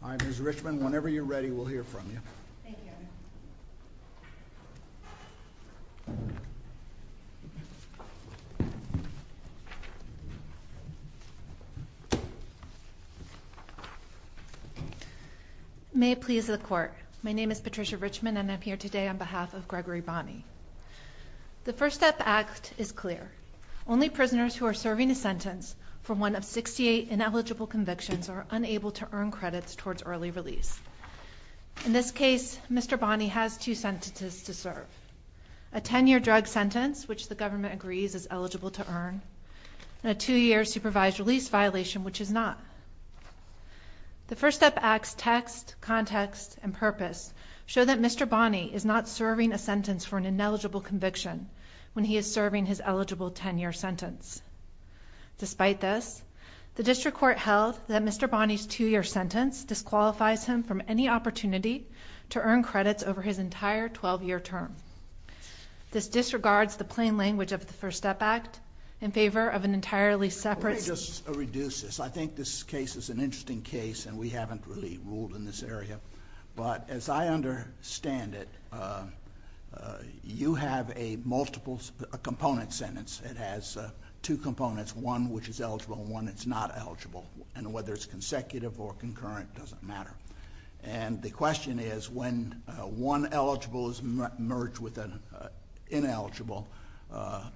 Patricia Richman May it please the Court, my name is Patricia Richman and I'm here today on behalf of Gregory Bonnie. The First Step Act is clear. Only prisoners who are serving a sentence for one of 68 ineligible convictions are unable to earn credits towards early release. In this case, Mr. Bonnie has two sentences to serve. A 10-year drug sentence, which the government agrees is eligible to earn, and a two-year supervised release violation, which is not. The First Step Act's text, context, and purpose show that Mr. Bonnie is not serving a sentence for an ineligible conviction when he is serving his eligible 10-year sentence. Despite this, the District Court held that Mr. Bonnie's two-year sentence disqualifies him from any opportunity to earn credits over his entire 12-year term. This disregards the plain language of the First Step Act in favor of an entirely separate... Let me just reduce this. I think this case is an interesting case and we haven't really in this area, but as I understand it, you have a multiple component sentence. It has two components, one which is eligible and one that's not eligible. And whether it's consecutive or concurrent doesn't matter. And the question is, when one eligible is merged with an ineligible,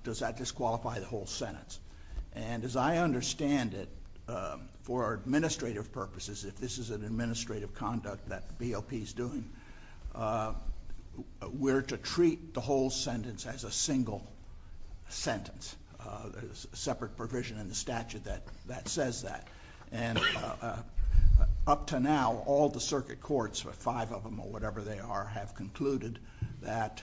does that disqualify the whole sentence? And as I understand it, for administrative purposes, if this is an administrative conduct that BOP is doing, we're to treat the whole sentence as a single sentence. There's a separate provision in the statute that says that. And up to now, all the circuit courts, five of them or whatever they are, have concluded that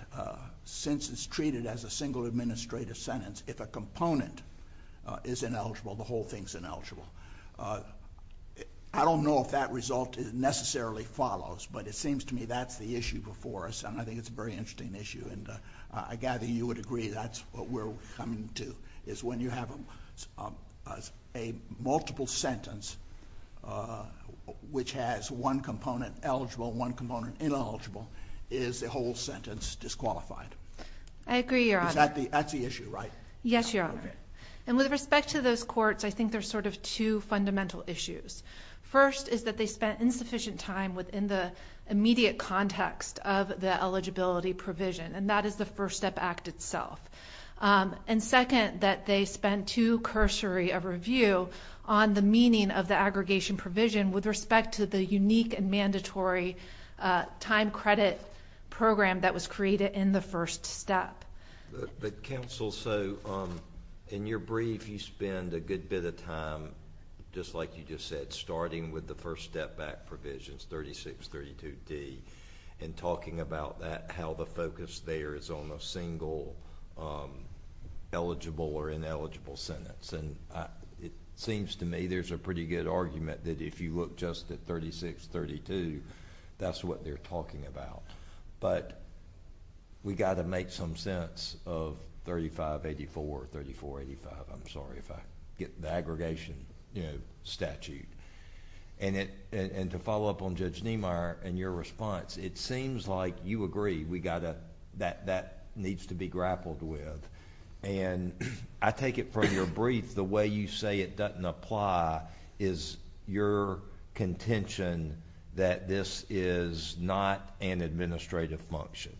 since it's treated as a single administrative sentence, if a component is ineligible, the whole thing's ineligible. I don't know if that result necessarily follows, but it seems to me that's the issue before us. And I think it's a very interesting issue. And I gather you would agree that's what we're coming to, is when you have a multiple sentence which has one component eligible, one component ineligible, is the whole sentence disqualified. I agree, Your Honor. That's the issue, right? Yes, Your Honor. And with respect to those courts, I think there's sort of two fundamental issues. First is that they spent insufficient time within the immediate context of the eligibility provision, and that is the First Step Act itself. And second, that they spent too cursory a review on the meaning of the aggregation provision with respect to the unique and mandatory time credit program that was created in the first step. But counsel, so in your brief, you spend a good bit of time, just like you just said, starting with the First Step Act provisions, 3632D, and talking about that, how the focus there is on a single eligible or ineligible sentence. And it seems to me there's a pretty good argument that if you look just at 3632, that's what they're talking about. But we got to make some sense of 3584, 3485. I'm sorry if I get the aggregation statute. And to follow up on Judge Niemeyer and your response, it seems like you agree that that needs to be grappled with. And I take it from your brief, the way you say it doesn't apply is your contention that this is not an administrative function.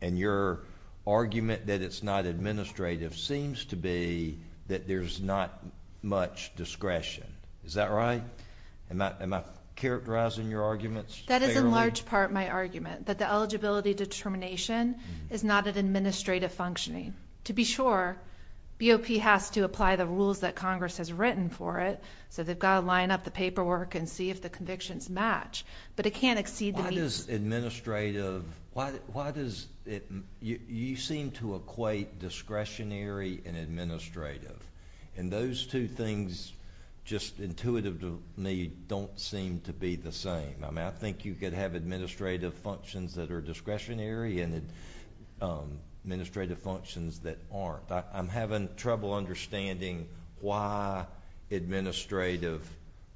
And your argument that it's not administrative seems to be that there's not much discretion. Is that right? Am I characterizing your arguments fairly? That is in large part my argument, that the eligibility determination is not an administrative functioning. To be sure, BOP has to apply the rules that Congress has written for it. So they've got to line up the paperwork and see if the convictions match. But it can't exceed the need. Why does administrative, why does it, you seem to equate discretionary and administrative. And those two things, just intuitive to me, don't seem to be the same. I mean, I think you could have administrative functions that are discretionary and administrative functions that aren't. I'm having trouble understanding why administrative,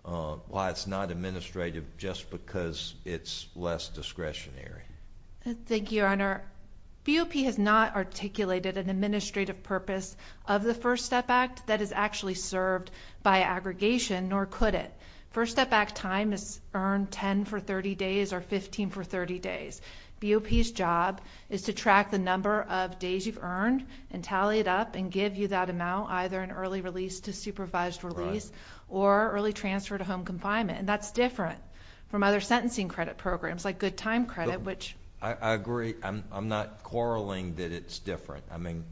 why it's not administrative just because it's less discretionary. Thank you, Your Honor. BOP has not articulated an administrative purpose of the First Step Act that is actually served by aggregation, nor could it. First Step Act time is earned 10 for 30 days or 15 for 30 days. BOP's job is to track the number of days you've earned and tally it up and give you that amount either in early release to supervised release or early transfer to home confinement. And that's different from other sentencing credit programs like Good Time Credit, which- I agree. I'm not quarreling that it's different. I mean,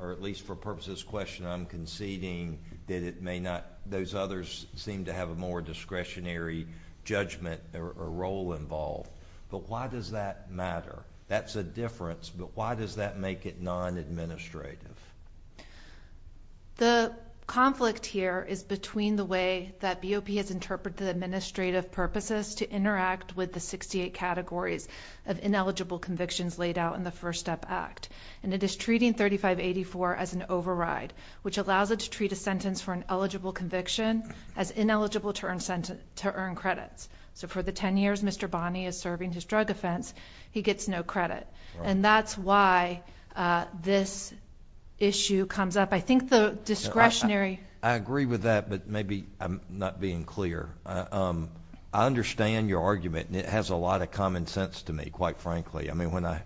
or at least for purposes of question, I'm conceding that it may not, those others seem to have a more discretionary judgment or role involved. But why does that matter? That's a difference, but why does that make it non-administrative? The conflict here is between the way that BOP has interpreted administrative purposes to interact with the 68 categories of ineligible convictions laid out in the First Step Act. And it is treating 3584 as an override, which allows it to treat a sentence for an eligible conviction as ineligible to earn credits. So for the 10 years Mr. Bonney is serving his drug offense, he gets no credit. And that's why this issue comes up. I think the discretionary- I agree with that, but maybe I'm not being clear. I understand your argument, and it has a lot of common sense to me, quite frankly. I mean, when I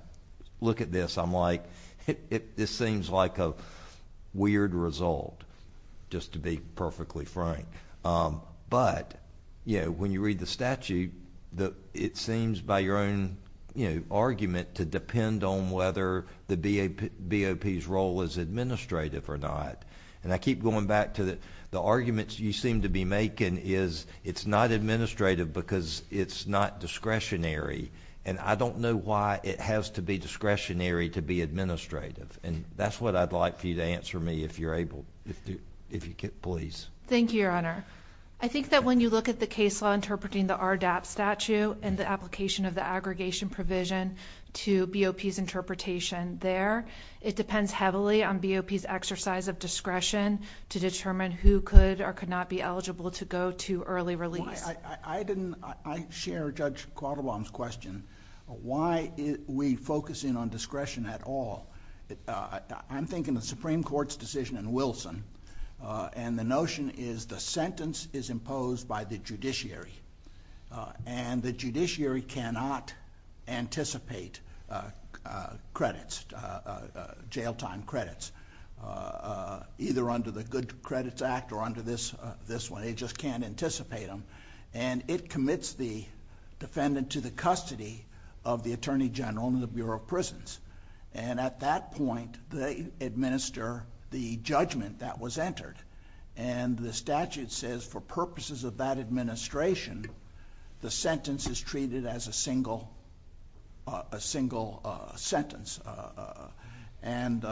look at this, I'm like, this seems like a weird result, just to be perfectly frank. But, you know, when you read the statute, it seems by your own, you know, argument to depend on whether the BOP's role is administrative or not. And I keep going back to the arguments you seem to be making is it's not administrative because it's not discretionary. And I don't know why it has to be discretionary to be administrative. And that's what I'd like for you to answer me, if you're able, if you could, please. Thank you, Your Honor. I think that when you look at the case law interpreting the RDAP statute and the application of the aggregation provision to BOP's interpretation there, it depends heavily on BOP's exercise of discretion to determine who could or could not be eligible to go to early release. Well, I didn't- I share Judge Quattlebaum's question. Why are we focusing on discretion at all? I'm thinking of the Supreme Court's decision in Wilson, and the notion is the sentence is imposed by the judiciary. And the judiciary cannot anticipate credits, jail time credits, either under the Good Credits Act or under this one. They just can't anticipate them. And it commits the defendant to the custody of the Attorney General and the Bureau of Prisons. And at that point, they administer the judgment that was entered. And the statute says for purposes of that administration, the sentence is treated as a single sentence. And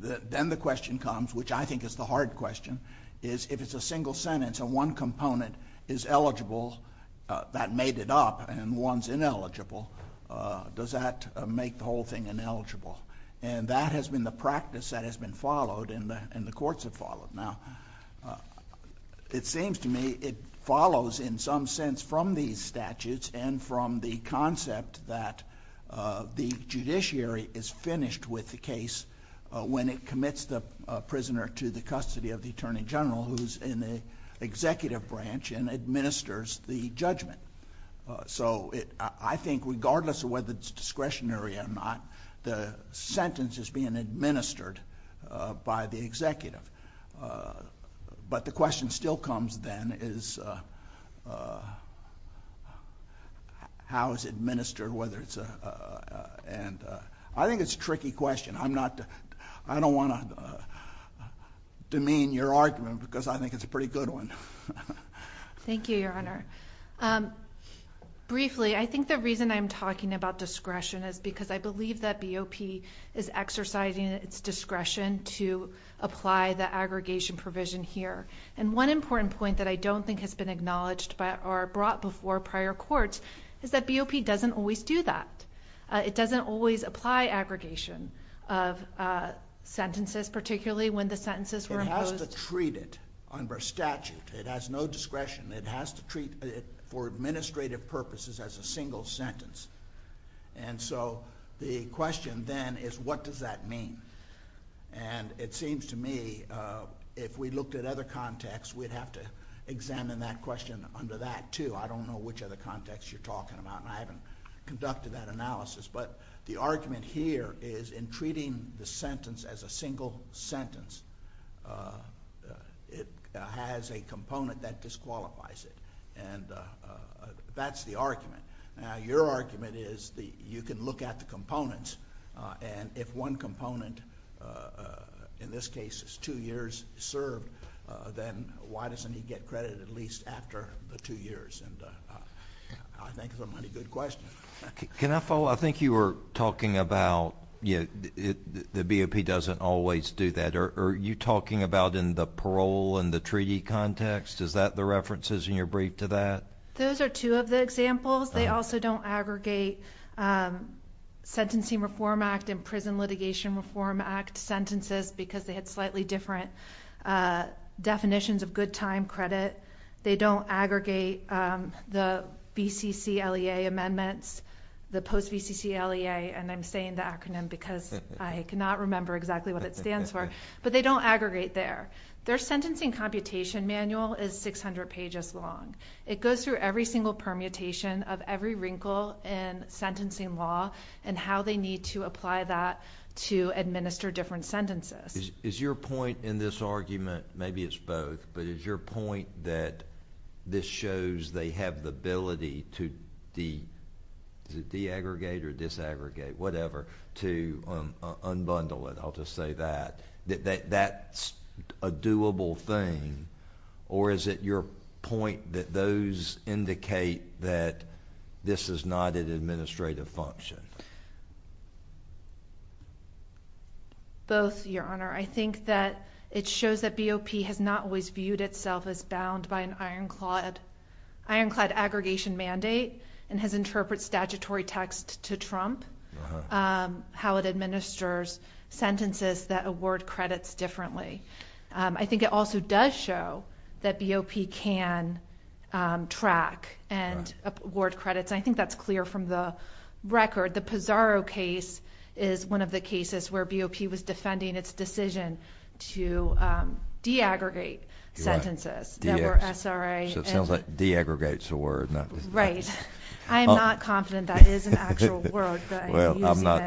then the question comes, which I think is the hard question, is if it's a single sentence and one component is eligible that made it up and one's ineligible, does that make the whole thing ineligible? And that has been the practice that has been followed and the courts have followed. Now, it seems to me it follows in some sense from these statutes and from the concept that the judiciary is finished with the case when it commits the prisoner to the custody of the Attorney General who's in the executive branch and administers the judgment. So I think regardless of whether it's discretionary or not, the sentence is being administered by the executive. But the question still comes then is how is it administered? I think it's a tricky question. I don't want to demean your argument because I think it's a pretty good one. Thank you, Your Honor. Briefly, I think the reason I'm talking about discretion is because I believe BOP is exercising its discretion to apply the aggregation provision here. And one important point that I don't think has been acknowledged by or brought before prior courts is that BOP doesn't always do that. It doesn't always apply aggregation of sentences, particularly when the sentences were imposed. It has to treat it under statute. It has no discretion. It has to treat it for administrative purposes as a single sentence. And so the question then is what does that mean? And it seems to me if we looked at other contexts, we'd have to examine that question under that, too. I don't know which other contexts you're talking about, and I haven't conducted that analysis. But the argument here is in treating the sentence as a single sentence, it has a component that disqualifies it. And that's the argument. Now, your argument is that you can look at the components, and if one component, in this case, is two years served, then why doesn't he get credit at least after the two years? And I think it's a pretty good question. Can I follow? I think you were talking about the BOP doesn't always do that. Are you talking about in the parole and the treaty context? Is that the references in your brief to that? Those are two of the examples. They also don't aggregate Sentencing Reform Act and Prison Litigation Reform Act sentences because they had slightly different definitions of good time credit. They don't aggregate the BCCLEA amendments, the post-BCCLEA, and I'm saying the acronym because I cannot remember exactly what it stands for, but they don't aggregate there. Their sentencing computation manual is 600 pages long. It goes through every single permutation of every wrinkle in sentencing law and how they need to apply that to administer different sentences. Is your point in this argument, maybe it's both, but is your point that this shows they have the ability to de-aggregate or disaggregate, whatever, to unbundle it? I'll just say that. That's a doable thing, or is it your point that those indicate that this is not an administrative function? Both, Your Honor. I think that it shows that BOP has not always viewed itself as bound by an ironclad aggregation mandate and has interpreted statutory text to trump how it administers sentences that award credits differently. I think it also does show that BOP can track and award credits. I think that's clear from the record. The Pizarro case is one of the cases where BOP was defending its decision to de-aggregate sentences that were SRA. So it sounds like de-aggregates a word. Right. I am not confident that is an actual word. Well, I'm not.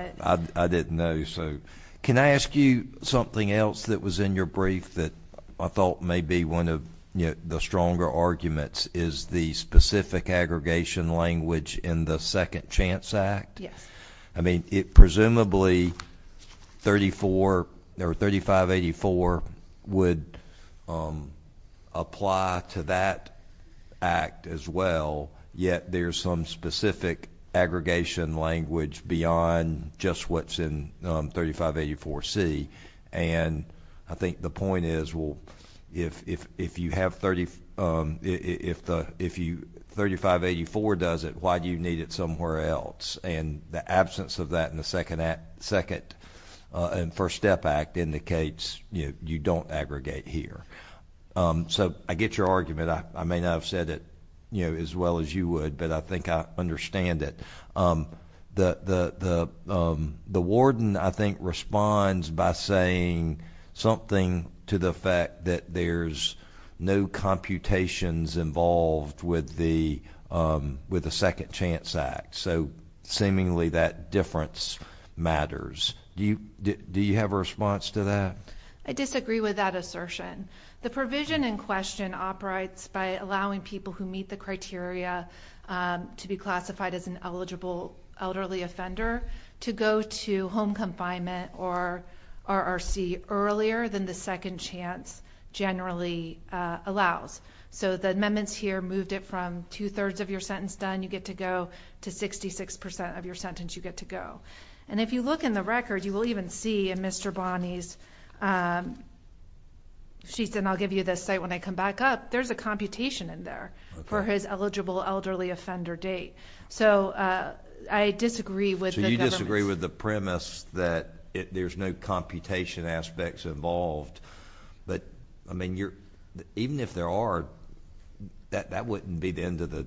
I didn't know. So can I ask you something else that was in your brief that I thought may be one of, you know, the stronger arguments is the specific aggregation language in the Second Chance Act? Yes. I mean, presumably 3584 would apply to that act as well, yet there's some specific aggregation language beyond just what's in 3584C. And I think the point is, well, if you have 3584 does it, why do you need it somewhere else? And the absence of that in the Second and First Step Act indicates, you know, you don't aggregate here. So I get your argument. I may not have said it, you know, as well as you would, but I think I understand it. The warden, I think, responds by saying something to the fact that there's no computations involved with the Second Chance Act. So seemingly that difference matters. Do you have a response to that? I disagree with that assertion. The provision in question operates by allowing people who meet the criteria to be classified as an eligible elderly offender to go to home confinement or RRC earlier than the Second Chance generally allows. So the amendments here moved it from two-thirds of your sentence done, you get to go, to 66 percent of your sentence you get to go. And if you look in the record, you will even see Mr. Bonney's sheets, and I'll give you the site when I come back up, there's a computation in there for his eligible elderly offender date. So I disagree with the government. So you disagree with the premise that there's no computation aspects involved. But, I mean, even if there are, that wouldn't be the end of the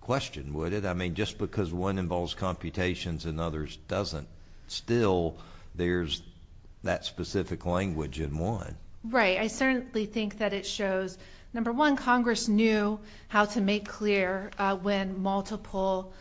question, would it? I mean, just because one involves computations and others doesn't still, there's that specific language in one. Right. I certainly think that it shows, number one, Congress knew how to make clear when multiple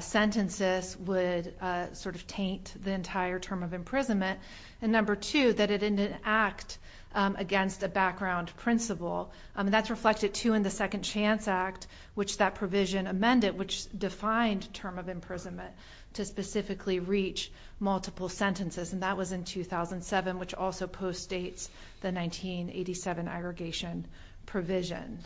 sentences would sort of taint the entire term of imprisonment. And number two, that it didn't act against a background principle. That's reflected, too, in the Second Chance Act, which that provision amended, which defined term imprisonment to specifically reach multiple sentences. And that was in 2007, which also postdates the 1987 aggregation provision.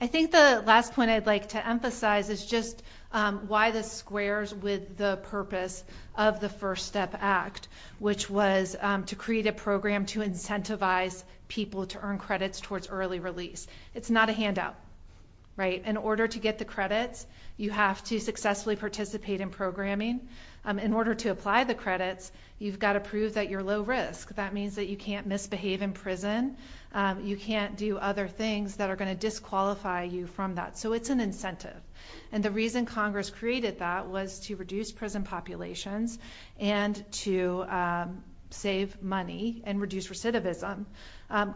I think the last point I'd like to emphasize is just why this squares with the purpose of the First Step Act, which was to create a program to incentivize people to earn credits towards early release. It's not a handout. In order to get the credits, you have to successfully participate in programming. In order to apply the credits, you've got to prove that you're low risk. That means that you can't misbehave in prison. You can't do other things that are going to disqualify you from that. So it's an incentive. And the reason Congress created that was to reduce prison populations and to save money and reduce recidivism.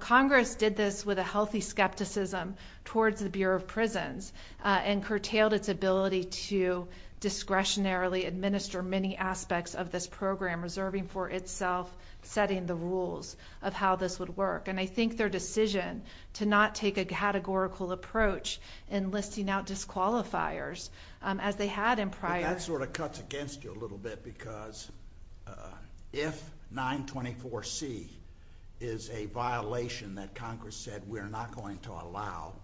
Congress did this with a healthy skepticism towards the Bureau of Prisons and curtailed its ability to discretionarily administer many aspects of this program, reserving for itself setting the rules of how this would work. And I think their decision to not take a categorical approach in listing out disqualifiers, as they had in prior... That cuts against you a little bit, because if 924C is a violation that Congress said, we're not going to allow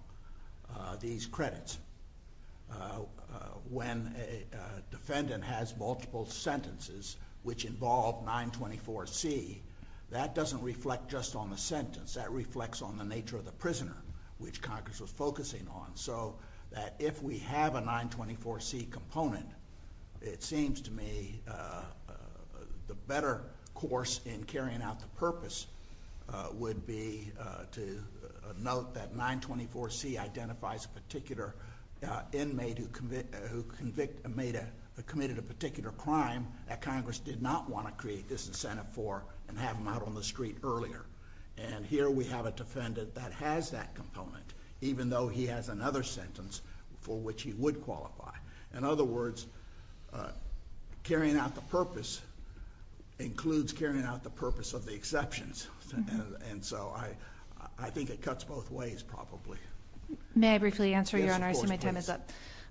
these credits, when a defendant has multiple sentences which involve 924C, that doesn't reflect just on the sentence. That reflects on the nature of the prisoner, which Congress was focusing on. So that if we have a 924C component, it seems to me the better course in carrying out the purpose would be to note that 924C identifies a particular inmate who committed a particular crime that Congress did not want to create this incentive for and have him out on the street earlier. And here we have a defendant that has that component, even though he has another sentence for which he would qualify. In other words, carrying out the purpose includes carrying out the purpose of the exceptions. And so I think it cuts both ways, probably. May I briefly answer, Your Honor?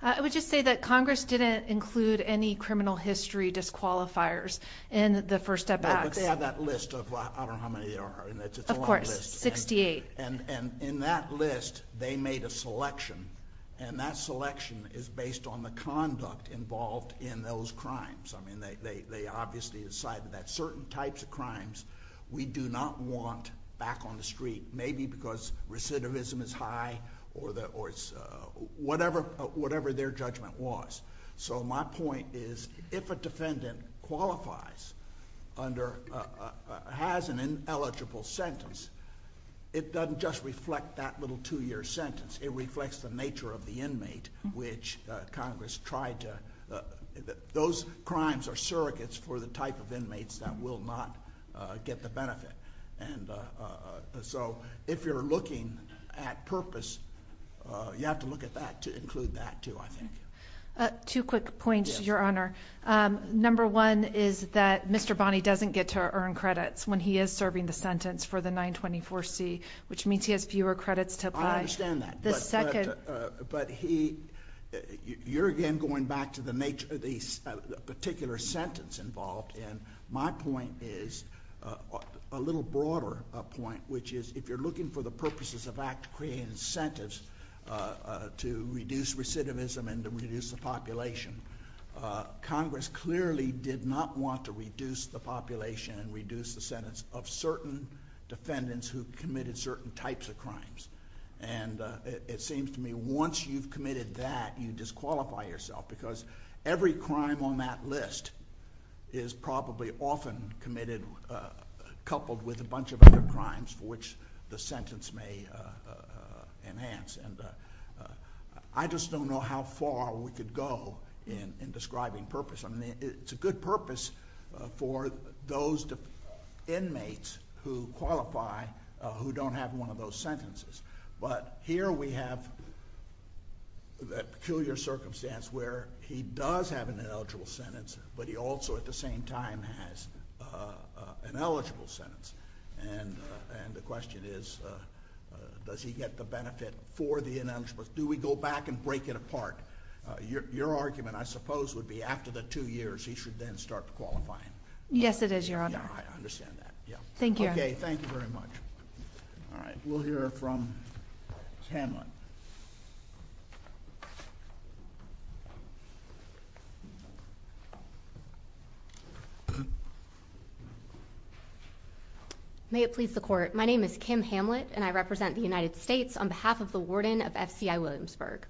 I would just say that Congress didn't include any criminal history disqualifiers in the First Step Act. They have that list of, I don't know how many there are, it's a long list. Of course, 68. And in that list, they made a selection, and that selection is based on the conduct involved in those crimes. They obviously decided that certain types of crimes we do not want back on the street, maybe because recidivism is high or whatever their judgment was. So my point is, if a defendant qualifies under, has an ineligible sentence, it doesn't just reflect that little two-year sentence. It reflects the nature of the inmate which Congress tried to, those crimes are surrogates for the type of inmates that will not get the benefit. And so, if you're looking at purpose, you have to look at that to include that too, I think. Two quick points, Your Honor. Number one is that Mr. Bonney doesn't get to earn credits when he is serving the sentence for the 924C, which means he has fewer credits to apply. I understand that. But he, you're again going back to the nature of the particular sentence involved, and my point is, a little broader point, which is if you're looking for the purposes of act to create incentives to reduce recidivism and to reduce the population, Congress clearly did not want to reduce the population and reduce the sentence of certain defendants who committed certain types of crimes. And it seems to me once you've committed that, you disqualify yourself, because every crime on that list is probably often committed, coupled with a bunch of other crimes for which the sentence may enhance. And I just don't know how far we could go in describing purpose. I mean, it's a good purpose for those inmates who qualify who don't have one of those sentences. But here we have that peculiar circumstance where he does have an ineligible sentence, but he also at the same time has an eligible sentence. And the question is, does he get the benefit for the ineligible? Do we go back and break it apart? Your argument, I suppose, would be after the two years he should then start qualifying. Yes, it is, Your Honor. I understand that. Yeah. Thank you. Okay. Thank you very much. All right. We'll hear from Hamlet. May it please the Court. My name is Kim Hamlet, and I represent the United States on behalf of the Warden of FCI Williamsburg.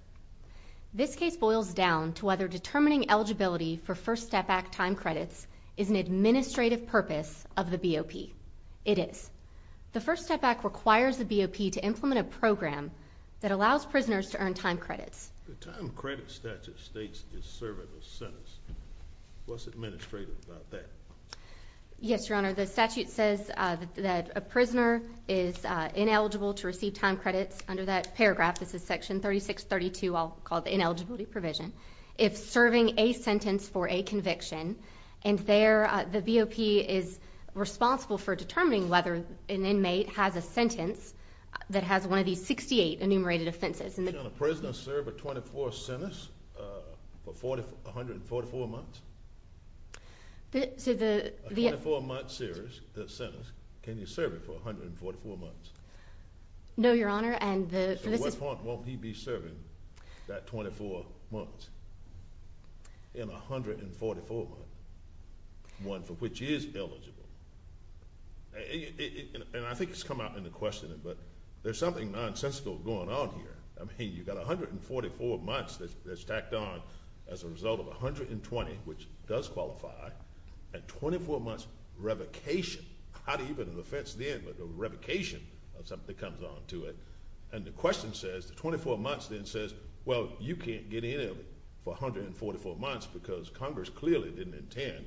This case boils down to whether determining eligibility for First Step Back is the administrative purpose of the BOP. It is. The First Step Back requires the BOP to implement a program that allows prisoners to earn time credits. The time credit statute states it's serving a sentence. What's administrative about that? Yes, Your Honor. The statute says that a prisoner is ineligible to receive time credits under that paragraph. This is Section 3632. I'll call it the ineligibility provision. If serving a sentence for a conviction, and there, the BOP is responsible for determining whether an inmate has a sentence that has one of these 68 enumerated offenses. Can a prisoner serve a 24 sentence for 144 months? So the... A 24-month sentence, can you serve it for 144 months? No, Your Honor, and the... Won't he be serving that 24 months in 144 months, one for which he is eligible? And I think it's come out in the questioning, but there's something nonsensical going on here. I mean, you've got 144 months that's stacked on as a result of 120, which does qualify, and 24 months revocation, not even an offense then, but a revocation of something that comes onto it, and the question says, the 24 months then says, well, you can't get in for 144 months because Congress clearly didn't intend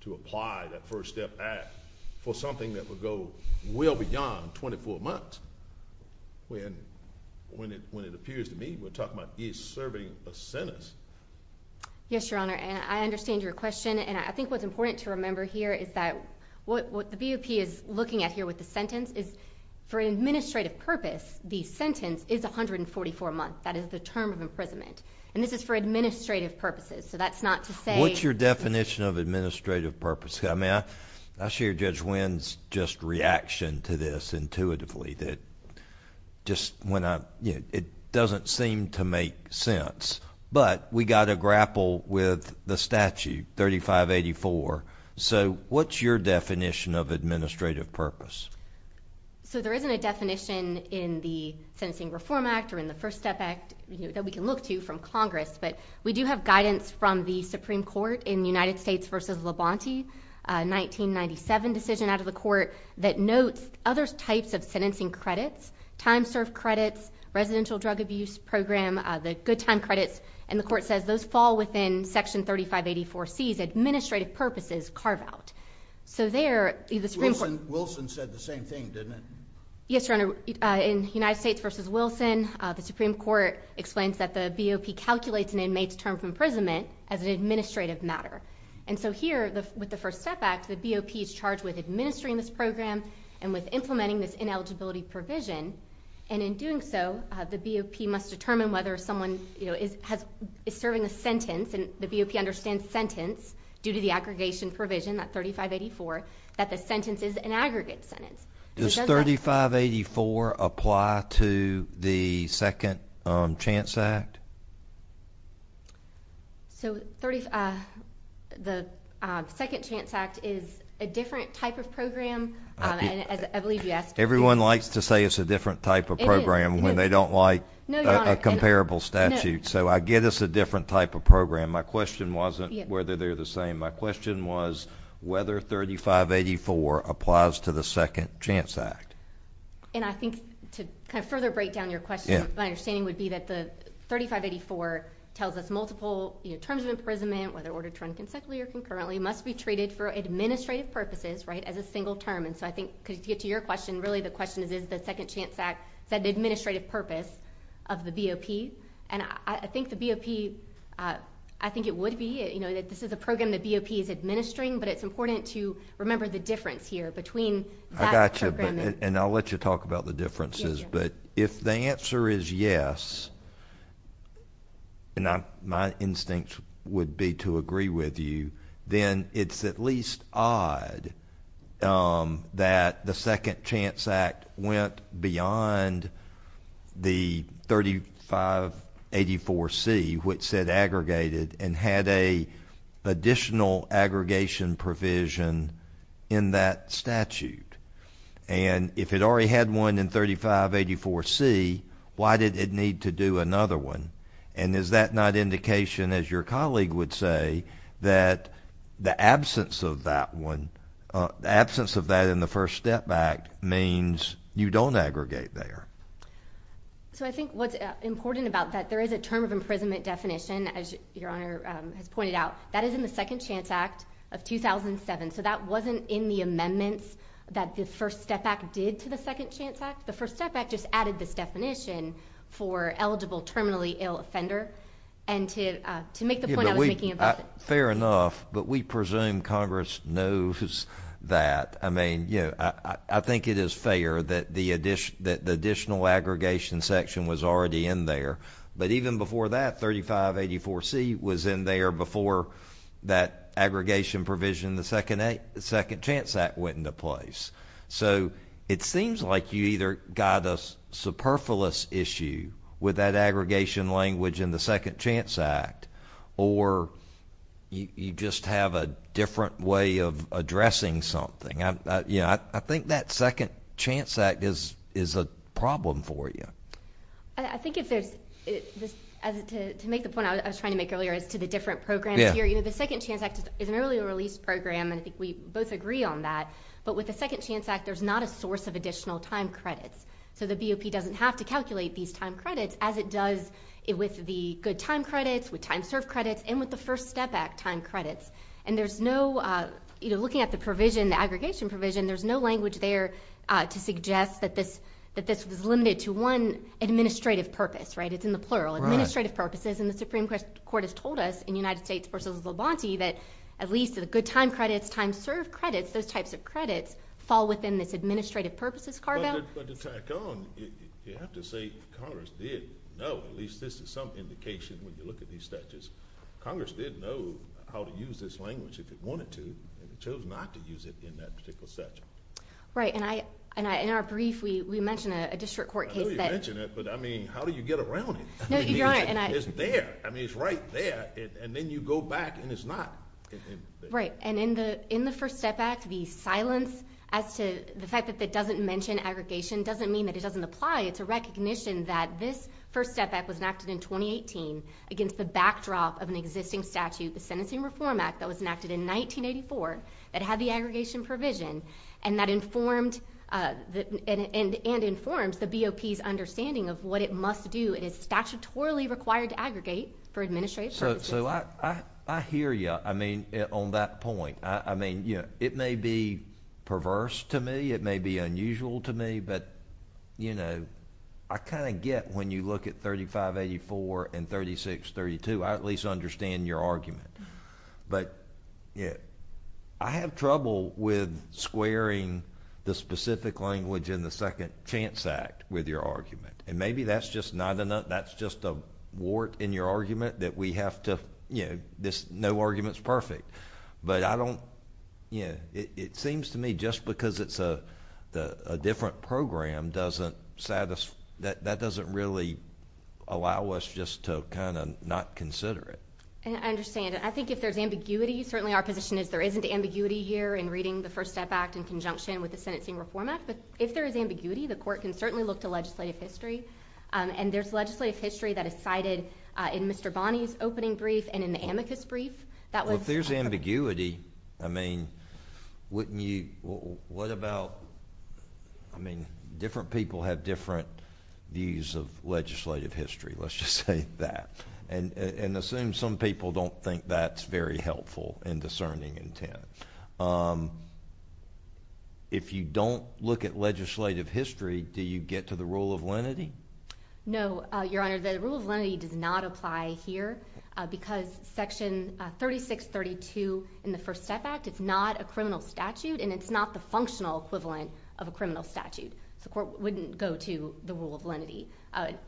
to apply that First Step Act for something that would go well beyond 24 months, when it appears to me we're talking about he's serving a sentence. Yes, Your Honor, and I understand your question, and I think what's important to remember here is that what the BOP is looking at here with the sentence is, for an administrative purpose, the sentence is 144 months. That is the term of imprisonment, and this is for administrative purposes, so that's not to say... What's your definition of administrative purpose? I mean, I share Judge Winn's just reaction to this intuitively, that just when I... It doesn't seem to make sense, but we got to grapple with the statute, 3584, so what's your definition of administrative purpose? So there isn't a definition in the Sentencing Reform Act or in the First Step Act that we can look to from Congress, but we do have guidance from the Supreme Court in United States v. Labonte, a 1997 decision out of the court that notes other types of sentencing credits, time served credits, residential drug abuse program, the good time credits, and the court says those fall within Section 3584C's administrative purposes carve out. So there... Wilson said the same thing, didn't it? Yes, Your Honor, in United States v. Wilson, the Supreme Court explains that the BOP calculates an inmate's term of imprisonment as an administrative matter, and so here with the First Step Act, the BOP is charged with administering this program and with implementing this ineligibility provision, and in doing so, the BOP must determine whether someone is serving a sentence, and the BOP understands sentence due to the aggregation provision, that 3584, that the sentence is an aggregate sentence. Does 3584 apply to the Second Chance Act? So, the Second Chance Act is a different type of program, and I believe you asked... Everyone likes to say it's a different type of program when they don't like a comparable statute, so I get it's a different type of program. My question wasn't whether they're the same. My question was whether 3584 applies to the Second Chance Act. And I think to kind of further break down your question, my understanding would be that the 3584 tells us multiple terms of imprisonment, whether ordered, termed consecutively or concurrently, must be treated for administrative purposes, right, as a single term, and so I think, to get to your question, really the question is, is the Second Chance Act said the administrative purpose of the BOP? And I think the BOP, I think it would be, you know, that this is a program the BOP is administering, but it's important to remember the difference here between... I got you, and I'll let you talk about the differences, but if the answer is yes, and my instincts would be to agree with you, then it's at least odd that the Second Chance Act went beyond the 3584C, which said aggregated, and had an additional aggregation provision in that statute. And if it already had one in 3584C, why did it need to do another one? And is that not indication, as your colleague would say, that the absence of that one, the absence of that in the First Step Act means you don't aggregate there? So I think what's important about that, there is a term of imprisonment definition, as Your Honor has pointed out, that is in the Second Chance Act of 2007, so that wasn't in the amendments that the First Step Act did to the Second Chance Act. The First Step Act just added this definition for eligible terminally ill offender, and to make the point I was making about it. Fair enough, but we presume Congress knows that. I think it is fair that the additional aggregation section was already in there, but even before that, 3584C was in there before that aggregation provision, the Second Chance Act went into place. So it seems like you either got a superfluous issue with that aggregation language in the Second Chance Act, or you just have a different way of addressing something. I think that Second Chance Act is a problem for you. I think if there's, to make the point I was trying to make earlier as to the different programs here, the Second Chance Act is an early release program, and I think we both agree on that, but with the Second Chance Act, there's not a source of additional time credits. So the BOP doesn't have to calculate these time credits as it does with the good time credits, with time served credits, and with the First Step Act time credits. And there's no, looking at the provision, the aggregation provision, there's no language there to suggest that this was limited to one administrative purpose. It's in the plural, administrative purposes, and the Supreme Court has told us in United States v. Levanti that at least the good time credits, time served credits, those types of credits, fall within this administrative purposes card amount. But to tack on, you have to say Congress did know, at least this is some indication when you look at these statutes, Congress did know how to use this language if it wanted to, and it chose not to use it in that particular statute. Right, and in our brief, we mentioned a district court case that... I know you mentioned it, but I mean, how do you get around it? I mean, it's there. I mean, it's right there, and then you go back and it's not. Right, and in the First Step Act, the silence as to the fact that it doesn't mention aggregation doesn't mean that it doesn't apply. It's a recognition that this First Step Act was enacted in 2018 against the backdrop of an existing statute, the Sentencing Reform Act, that was enacted in 1984, that had the aggregation provision, and that informed, and informs the BOP's understanding of what it must do. It is statutorily required to aggregate for administrative purposes. So, I hear you, I mean, on that point. I mean, you know, it may be perverse to me. It may be unusual to me, but, you know, I kind of get when you look at 3584 and 3632, I at least understand your argument. But, yeah, I have trouble with squaring the specific language in the Second Chance Act with your argument, and maybe that's just not enough, that's just a wart in your argument that we have to, you know, no argument's perfect. But I don't, you know, it seems to me just because it's a different program doesn't satisfy, that doesn't really allow us just to kind of not consider it. And I understand, and I think if there's ambiguity, certainly our position is there isn't ambiguity here in reading the First Step Act in conjunction with the Sentencing Reform Act, but if there is ambiguity, the Court can certainly look to legislative history, and there's legislative history that is cited in Mr. Bonney's opening brief and in the amicus brief. Well, if there's ambiguity, I mean, wouldn't you, what about, I mean, different people have different views of legislative history, let's just say that, and assume some people don't think that's very helpful in discerning intent. If you don't look at legislative history, do you get to the rule of lenity? No, Your Honor, the rule of lenity does not apply here, because Section 3632 in the First Step Act, it's not a criminal statute, and it's not the functional equivalent of a criminal statute. So the Court wouldn't go to the rule of lenity,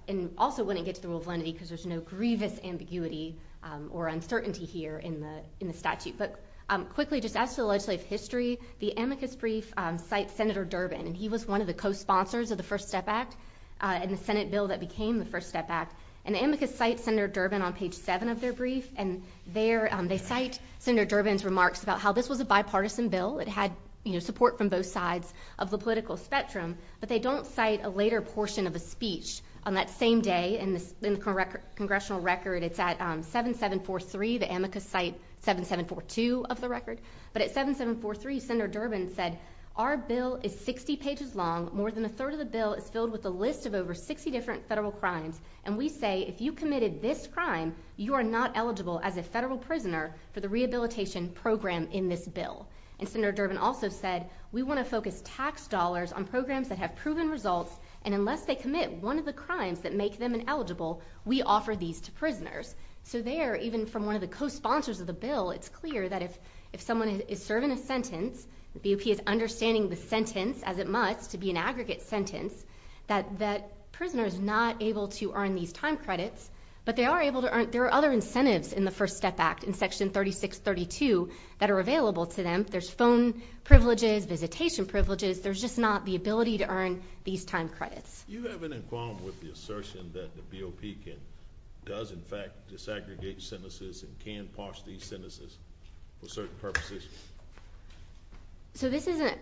and also wouldn't get to the rule of lenity because there's no grievous ambiguity or uncertainty here in the statute. But quickly, just as to the legislative history, the amicus brief cites Senator Durbin, and he was one of the co-sponsors of the First Step Act and the Senate bill that became the First Step Act, and the amicus cites Senator Durbin on page 7 of their brief, and there they cite Senator Durbin's remarks about how this was a bipartisan bill, it had support from both sides of the political spectrum, but they don't cite a later portion of a speech on that same day in the congressional record. It's at 7743, the amicus cite 7742 of the record, but at 7743 Senator Durbin said, our bill is 60 pages long, more than a third of the bill is filled with a list of over 60 different federal crimes, and we say if you committed this crime, you are not eligible as a federal prisoner for the rehabilitation program in this bill. And Senator Durbin also said, we want to focus tax dollars on programs that have proven results, and unless they commit one of the crimes that make them ineligible, we offer these to prisoners. So there, even from one of the co-sponsors of the bill, it's clear that if if someone is serving a sentence, the BOP is understanding the sentence as it must to be an aggregate sentence, that that prisoner is not able to earn these time credits, but they are able to earn, there are other incentives in the First Step Act in section 3632 that are available to them. There's phone privileges, visitation privileges, there's just not the ability to earn these time credits. You have an in quorum with the assertion that the BOP can, does in fact, disaggregate sentences and can parse these sentences for certain purposes? So this isn't,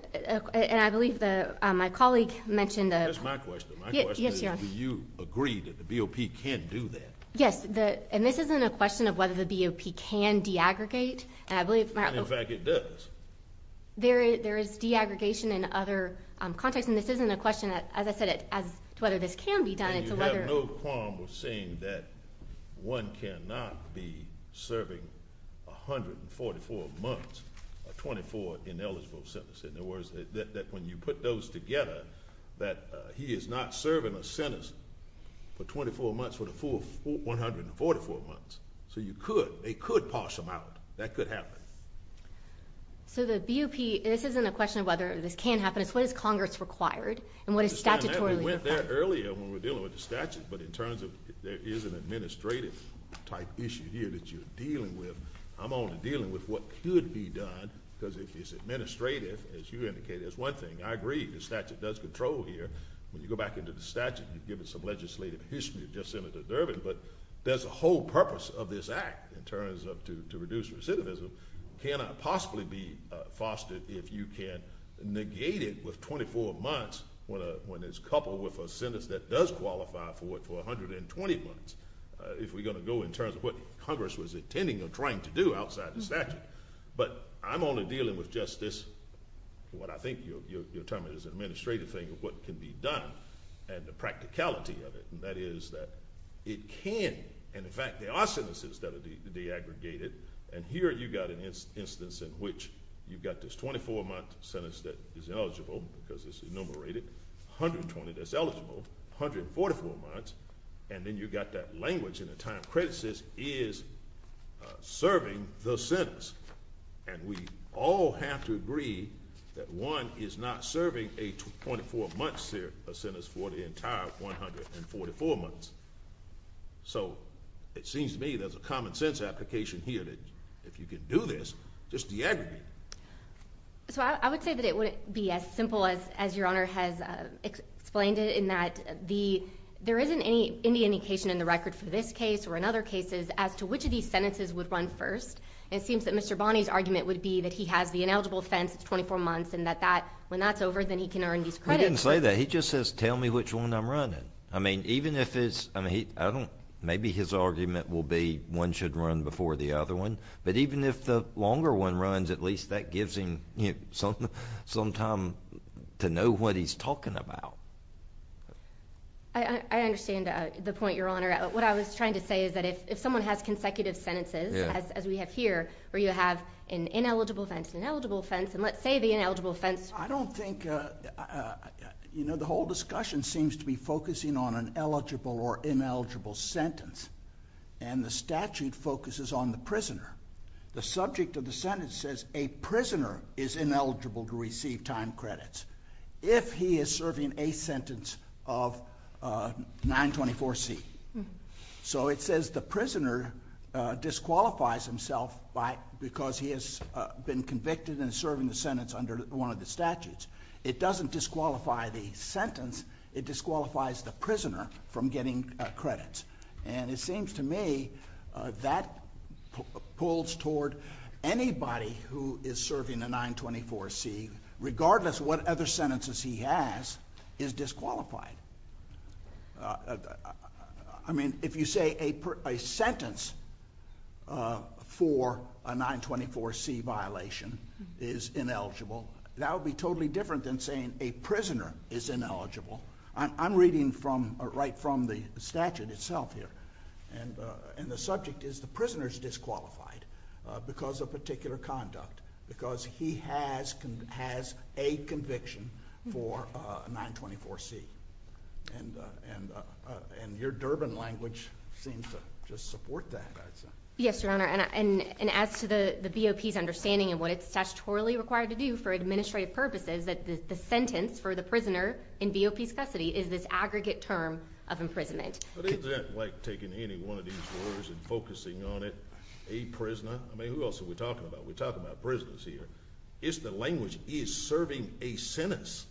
and I believe that my colleague mentioned that. That's my question, my question is do you agree that the BOP can do that? Yes, the, and this isn't a question of whether the BOP can de-aggregate, and I believe in fact it does. There is de-aggregation in other contexts, and this isn't a question that, as I said, as to whether this can be done, it's a whether. You have no quorum with saying that one cannot be serving 144 months, or 24 ineligible sentences. In other words, that when you put those together, that he is not serving a sentence for 24 months for the full 144 months. So you could, they could parse them out. That could happen. So the BOP, this isn't a question of whether this can happen, it's what is Congress required, and what is statutorily required? We went there earlier when we were dealing with the statute, but in terms of there is an administrative type issue here that you're dealing with, I'm only dealing with what could be done, because if it's administrative, as you indicated, it's one thing. I agree, the statute does control here. When you go back into the statute, you give it some legislative history, just Senator Durbin, but there's a whole purpose of this act, in terms of to reduce recidivism, cannot possibly be fostered if you can negate it with 24 months, when it's coupled with a sentence that does qualify for it for 120 months, if we're going to go in terms of what Congress was intending or trying to do outside the statute. But I'm only dealing with just this, what I think you're terming as an administrative thing of what can be done, and the practicality of it, and that is that it can, and in fact, there are sentences that are de-aggregated, and here you've got an instance in which you've got this 24-month sentence that is eligible, because it's enumerated, 120 that's eligible, 144 months, and then you've got that language in a time where our credit system is serving the sentence, and we all have to agree that one is not serving a 24-month sentence for the entire 144 months. So, it seems to me there's a common sense application here that if you can do this, just de-aggregate it. So I would say that it wouldn't be as simple as your Honor has explained it, in that there isn't any indication in the record for this case, or in other cases, as to which of these sentences would run first. It seems that Mr. Bonney's argument would be that he has the ineligible offense, it's 24 months, and that when that's over, then he can earn these credits. He didn't say that. He just says, tell me which one I'm running. I mean, even if it's, I don't, maybe his argument will be one should run before the other one. But even if the longer one runs, at least that gives him some time to know what he's talking about. I understand the point, Your Honor. What I was trying to say is that if someone has consecutive sentences, as we have here, where you have an ineligible offense, an ineligible offense, and let's say the ineligible offense... I don't think, you know, the whole discussion seems to be focusing on an eligible or ineligible sentence. And the statute focuses on the prisoner. The subject of the sentence says a prisoner is ineligible to receive time credits. If he is serving a sentence of 924C. So it says the prisoner disqualifies himself because he has been convicted and serving the sentence under one of the statutes. It doesn't disqualify the sentence, it disqualifies the prisoner from getting credits. And it seems to me that pulls toward anybody who is serving a 924C, regardless of what other sentences he has, is disqualified. I mean, if you say a sentence for a 924C violation is ineligible, that would be totally different than saying a prisoner is ineligible. I'm reading right from the statute itself here. And the subject is the prisoner is disqualified because of particular conduct. Because he has a conviction for a 924C. And your Durbin language seems to just support that. Yes, Your Honor. And as to the BOP's understanding of what it's statutorily required to do for administrative purposes, that the sentence for the prisoner in BOP's custody is this aggregate term of imprisonment. But isn't that like taking any one of these words and focusing on it? A prisoner? I mean, who else are we talking about? We're talking about prisoners here. It's the language, he is serving a sentence.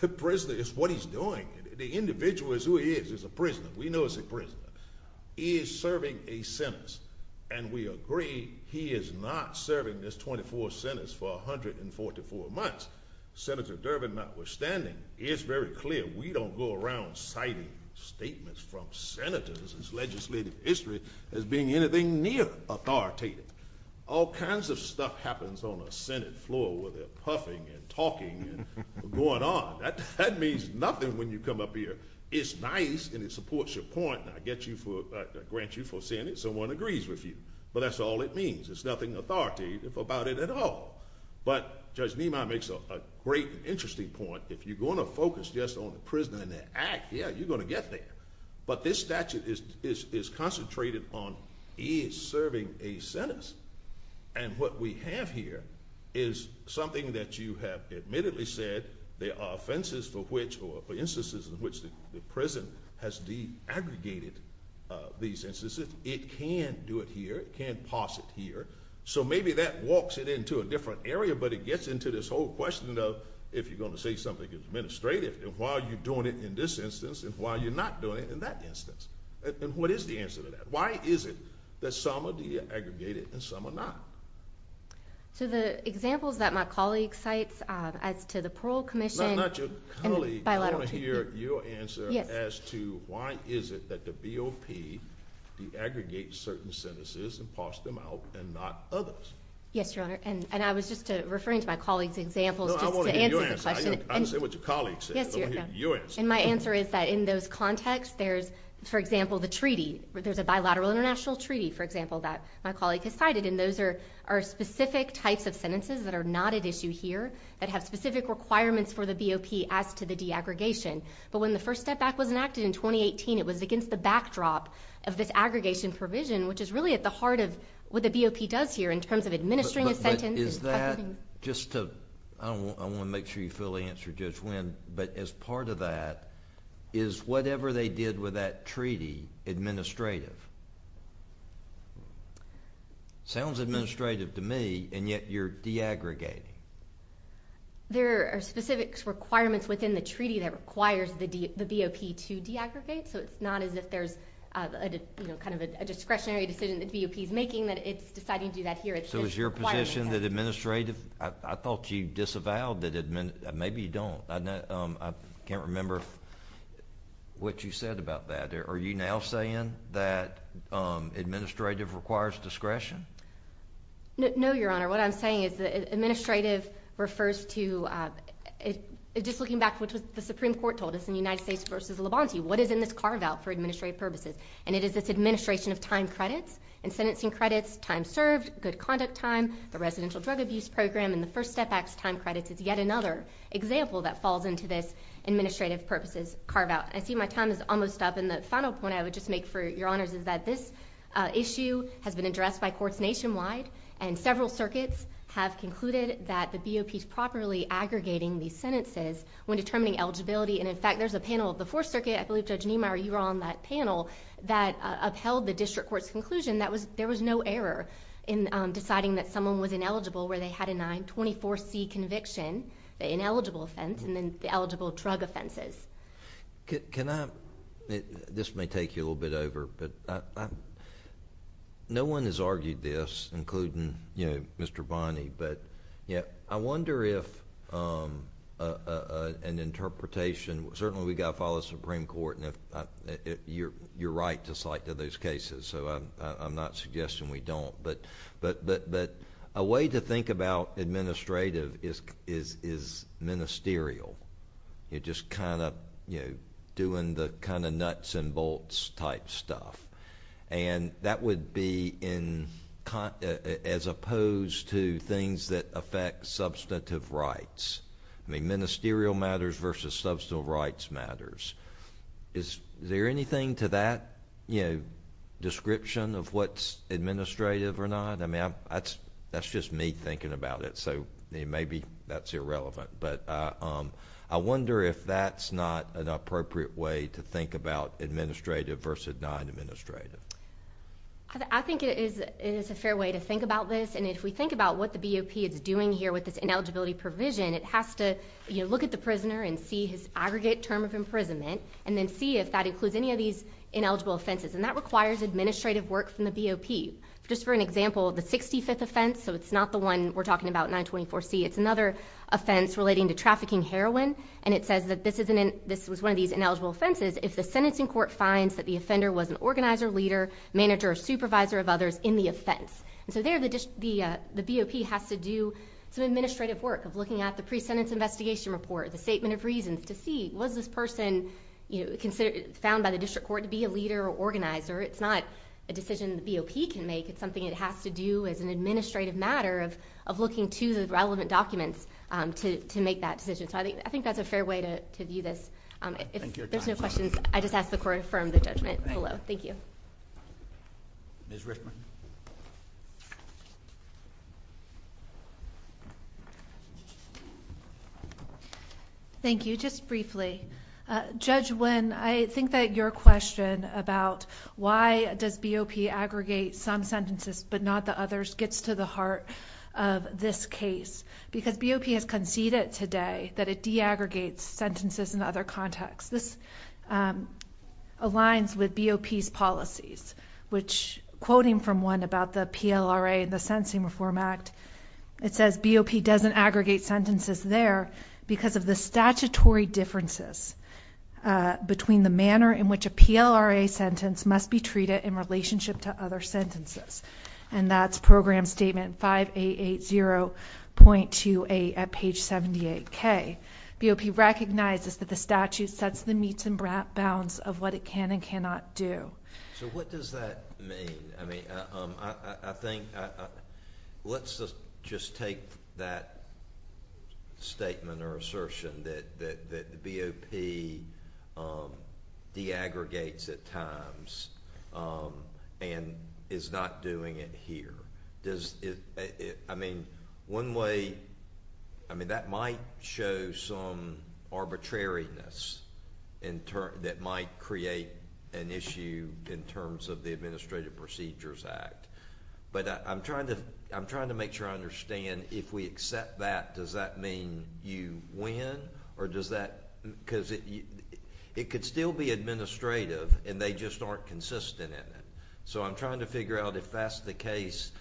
The prisoner is what he's doing. The individual is who he is. He's a prisoner. We know he's a prisoner. He is serving a sentence. And we agree, he is not serving this 24 sentences for 144 months. Senator Durbin, notwithstanding, it's very clear we don't go around citing statements from senators' legislative history as being anything near authoritative. All kinds of stuff happens on a Senate floor where they're puffing and talking and going on. That means nothing when you come up here. It's nice and it supports your point, and I grant you for saying it, someone agrees with you. But that's all it means. There's nothing authoritative about it at all. But Judge Nima makes a great and interesting point. If you're going to focus just on the prisoner in that act, yeah, you're going to get there. But this statute is concentrated on he is serving a sentence. And what we have here is something that you have admittedly said there are offenses for which, or instances in which the prison has de-aggregated these instances. It can do it here. It can pass it here. So maybe that walks it into a different area, but it gets into this whole question of if you're going to say something administrative, and why are you doing it in this instance, and why are you not doing it in that instance? And what is the answer to that? Why is it that some are de-aggregated and some are not? So the examples that my colleague cites as to the parole commission and the bilateral treaty— No, not your colleague. I want to hear your answer as to why is it that the BOP de-aggregates certain sentences and passes them out and not others. Yes, Your Honor. And I was just referring to my colleague's examples just to answer the question— No, I want to hear your answer. I didn't say what your colleague said. I want to hear your answer. And my answer is that in those contexts, there's, for example, the treaty. There's a bilateral international treaty, for example, that my colleague has cited. And those are specific types of sentences that are not at issue here that have specific requirements for the BOP as to the de-aggregation. But when the first step back was enacted in 2018, it was against the backdrop of this aggregation provision, which is really at the heart of what the BOP does here in terms of administering a sentence. Is that—I want to make sure you fully answer, Judge Winn—but as part of that, is whatever they did with that treaty administrative? Sounds administrative to me, and yet you're de-aggregating. There are specific requirements within the treaty that requires the BOP to de-aggregate. So it's not as if there's a discretionary decision that the BOP is making that it's deciding to do that here. So is your position that administrative—I thought you disavowed that—maybe you don't. I can't remember what you said about that. Are you now saying that administrative requires discretion? No, Your Honor. What I'm saying is that administrative refers to—just looking back to what the Supreme Court told us in the United States v. Labonte, what is in this carve-out for administrative purposes? And it is this administration of time credits and sentencing credits, time served, good conduct time, the residential drug abuse program, and the First Step Act's time credits is yet another example that falls into this administrative purposes carve-out. I see my time is almost up, and the final point I would just make for Your Honors is that this issue has been addressed by courts nationwide, and several circuits have concluded that the BOP is properly aggregating these sentences when determining eligibility. And in fact, there's a panel of the Fourth Circuit—I believe, Judge Niemeyer, you were on that panel— that upheld the district court's conclusion that there was no error in deciding that someone was ineligible where they had a 924C conviction, the ineligible offense, and then the eligible drug offenses. Can I—this may take you a little bit over, but no one has argued this, including Mr. Bonney, but I wonder if an interpretation—certainly, we've got to follow the Supreme Court, and you're right to cite to those cases, so I'm not suggesting we don't. But a way to think about administrative is ministerial. You're just kind of doing the nuts and bolts type stuff. And that would be as opposed to things that affect substantive rights. I mean, ministerial matters versus substantive rights matters. Is there anything to that description of what's administrative or not? I mean, that's just me thinking about it, so maybe that's irrelevant. But I wonder if that's not an appropriate way to think about administrative versus non-administrative. I think it is a fair way to think about this. And if we think about what the BOP is doing here with this ineligibility provision, it has to look at the prisoner and see his aggregate term of imprisonment, and then see if that includes any of these ineligible offenses. And that requires administrative work from the BOP. Just for an example, the 65th offense—so it's not the one we're talking about, 924C. It's another offense relating to trafficking heroin. And it says that this was one of these ineligible offenses if the sentencing court finds that the offender was an organizer, leader, manager, or supervisor of others in the offense. And so there, the BOP has to do some administrative work of looking at the pre-sentence investigation report, the statement of reasons, to see was this person found by the district court to be a leader or organizer. It's not a decision the BOP can make. It's something it has to do as an administrative matter of looking to the relevant documents to make that decision. So I think that's a fair way to view this. If there's no questions, I just ask the court to affirm the judgment below. Thank you. Ms. Richman. Thank you. Just briefly, Judge Wynn, I think that your question about why does BOP aggregate some sentences but not the others gets to the heart of this case. Because BOP has conceded today that it de-aggregates sentences in other contexts. This aligns with BOP's policies, which, quoting from one about the PLRA and the Sentencing Reform Act, it says BOP doesn't aggregate sentences there because of the statutory differences between the manner in which a PLRA sentence must be treated in relationship to other sentences. And that's Program Statement 5880.28 at page 78K. BOP recognizes that the statute sets the meets and bounds of what it can and cannot do. So what does that mean? I mean, I think, let's just take that statement or assertion that BOP de-aggregates at times and is not doing it here. I mean, one way, I mean, that might show some arbitrariness that might create an issue in terms of the Administrative Procedures Act. But I'm trying to make sure I understand if we accept that, does that mean you win or does that, because it could still be administrative and they just aren't consistent in it. So I'm trying to figure out if that's the case,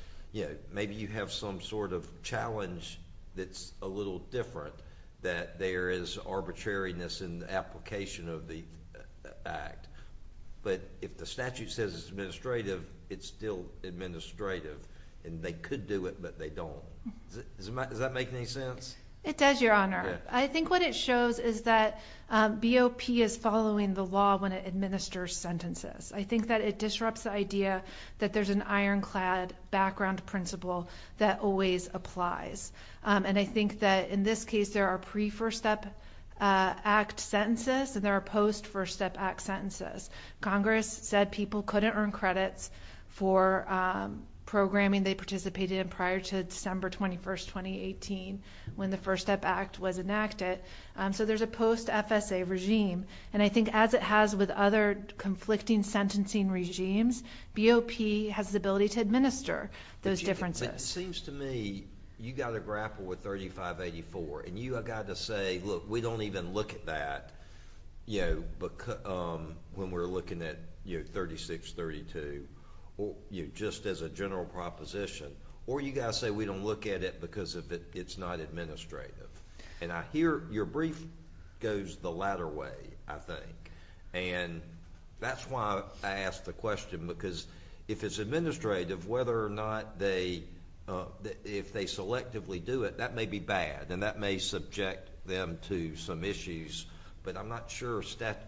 maybe you have some sort of challenge that's a little different that there is arbitrariness in the application of the act. But if the statute says it's administrative, it's still administrative and they could do it, but they don't. Does that make any sense? It does, Your Honor. I think what it shows is that BOP is following the law when it administers sentences. I think that it disrupts the idea that there's an ironclad background principle that always applies. And I think that in this case, there are pre-First Step Act sentences and there are post-First Step Act sentences. Congress said people couldn't earn credits for programming they participated in prior to December 21st, 2018, when the First Step Act was enacted. So there's a post-FSA regime. And I think as it has with other conflicting sentencing regimes, BOP has the ability to administer those differences. But it seems to me you got to grapple with 3584 and you got to say, look, we don't even look at that when we're looking at 3632. You know, just as a general proposition. Or you got to say, we don't look at it because it's not administrative. And I hear your brief goes the latter way, I think. And that's why I asked the question, because if it's administrative, whether or not they, if they selectively do it, that may be bad. And that may subject them to some issues. But I'm not sure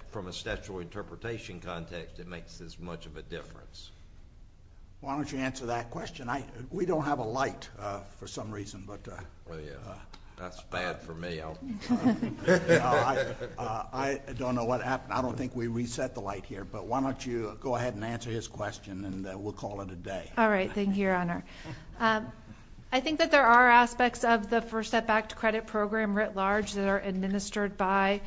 from a statutory interpretation context, it makes as much of a difference. Why don't you answer that question? We don't have a light for some reason. But that's bad for me. I don't know what happened. I don't think we reset the light here. But why don't you go ahead and answer his question, and we'll call it a day. All right. Thank you, Your Honor. I think that there are aspects of the First Step Act credit program writ large that are administered by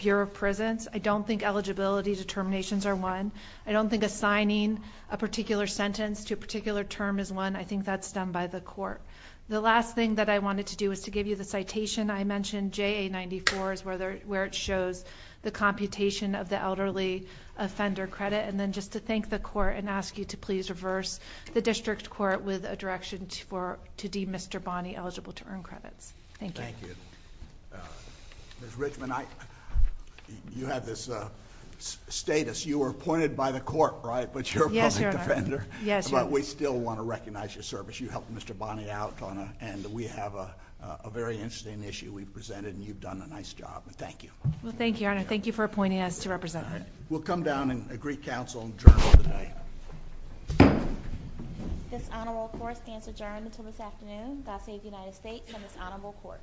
Bureau of Prisons. I don't think eligibility determinations are one. I don't think assigning a particular sentence to a particular term is one. I think that's done by the court. The last thing that I wanted to do is to give you the citation. I mentioned JA-94 is where it shows the computation of the elderly offender credit. And then just to thank the court and ask you to please reverse the district court with a direction to deem Mr. Bonney eligible to earn credits. Thank you. Thank you. Ms. Richmond, you have this status. You were appointed by the court, right? But you're a public defender. But we still want to recognize your service. You helped Mr. Bonney out. And we have a very interesting issue we've presented. And you've done a nice job. Thank you. Well, thank you, Your Honor. Thank you for appointing us to represent him. We'll come down and agree counsel and adjourn for the day. This honorable court stands adjourned until this afternoon. God save the United States and this honorable court.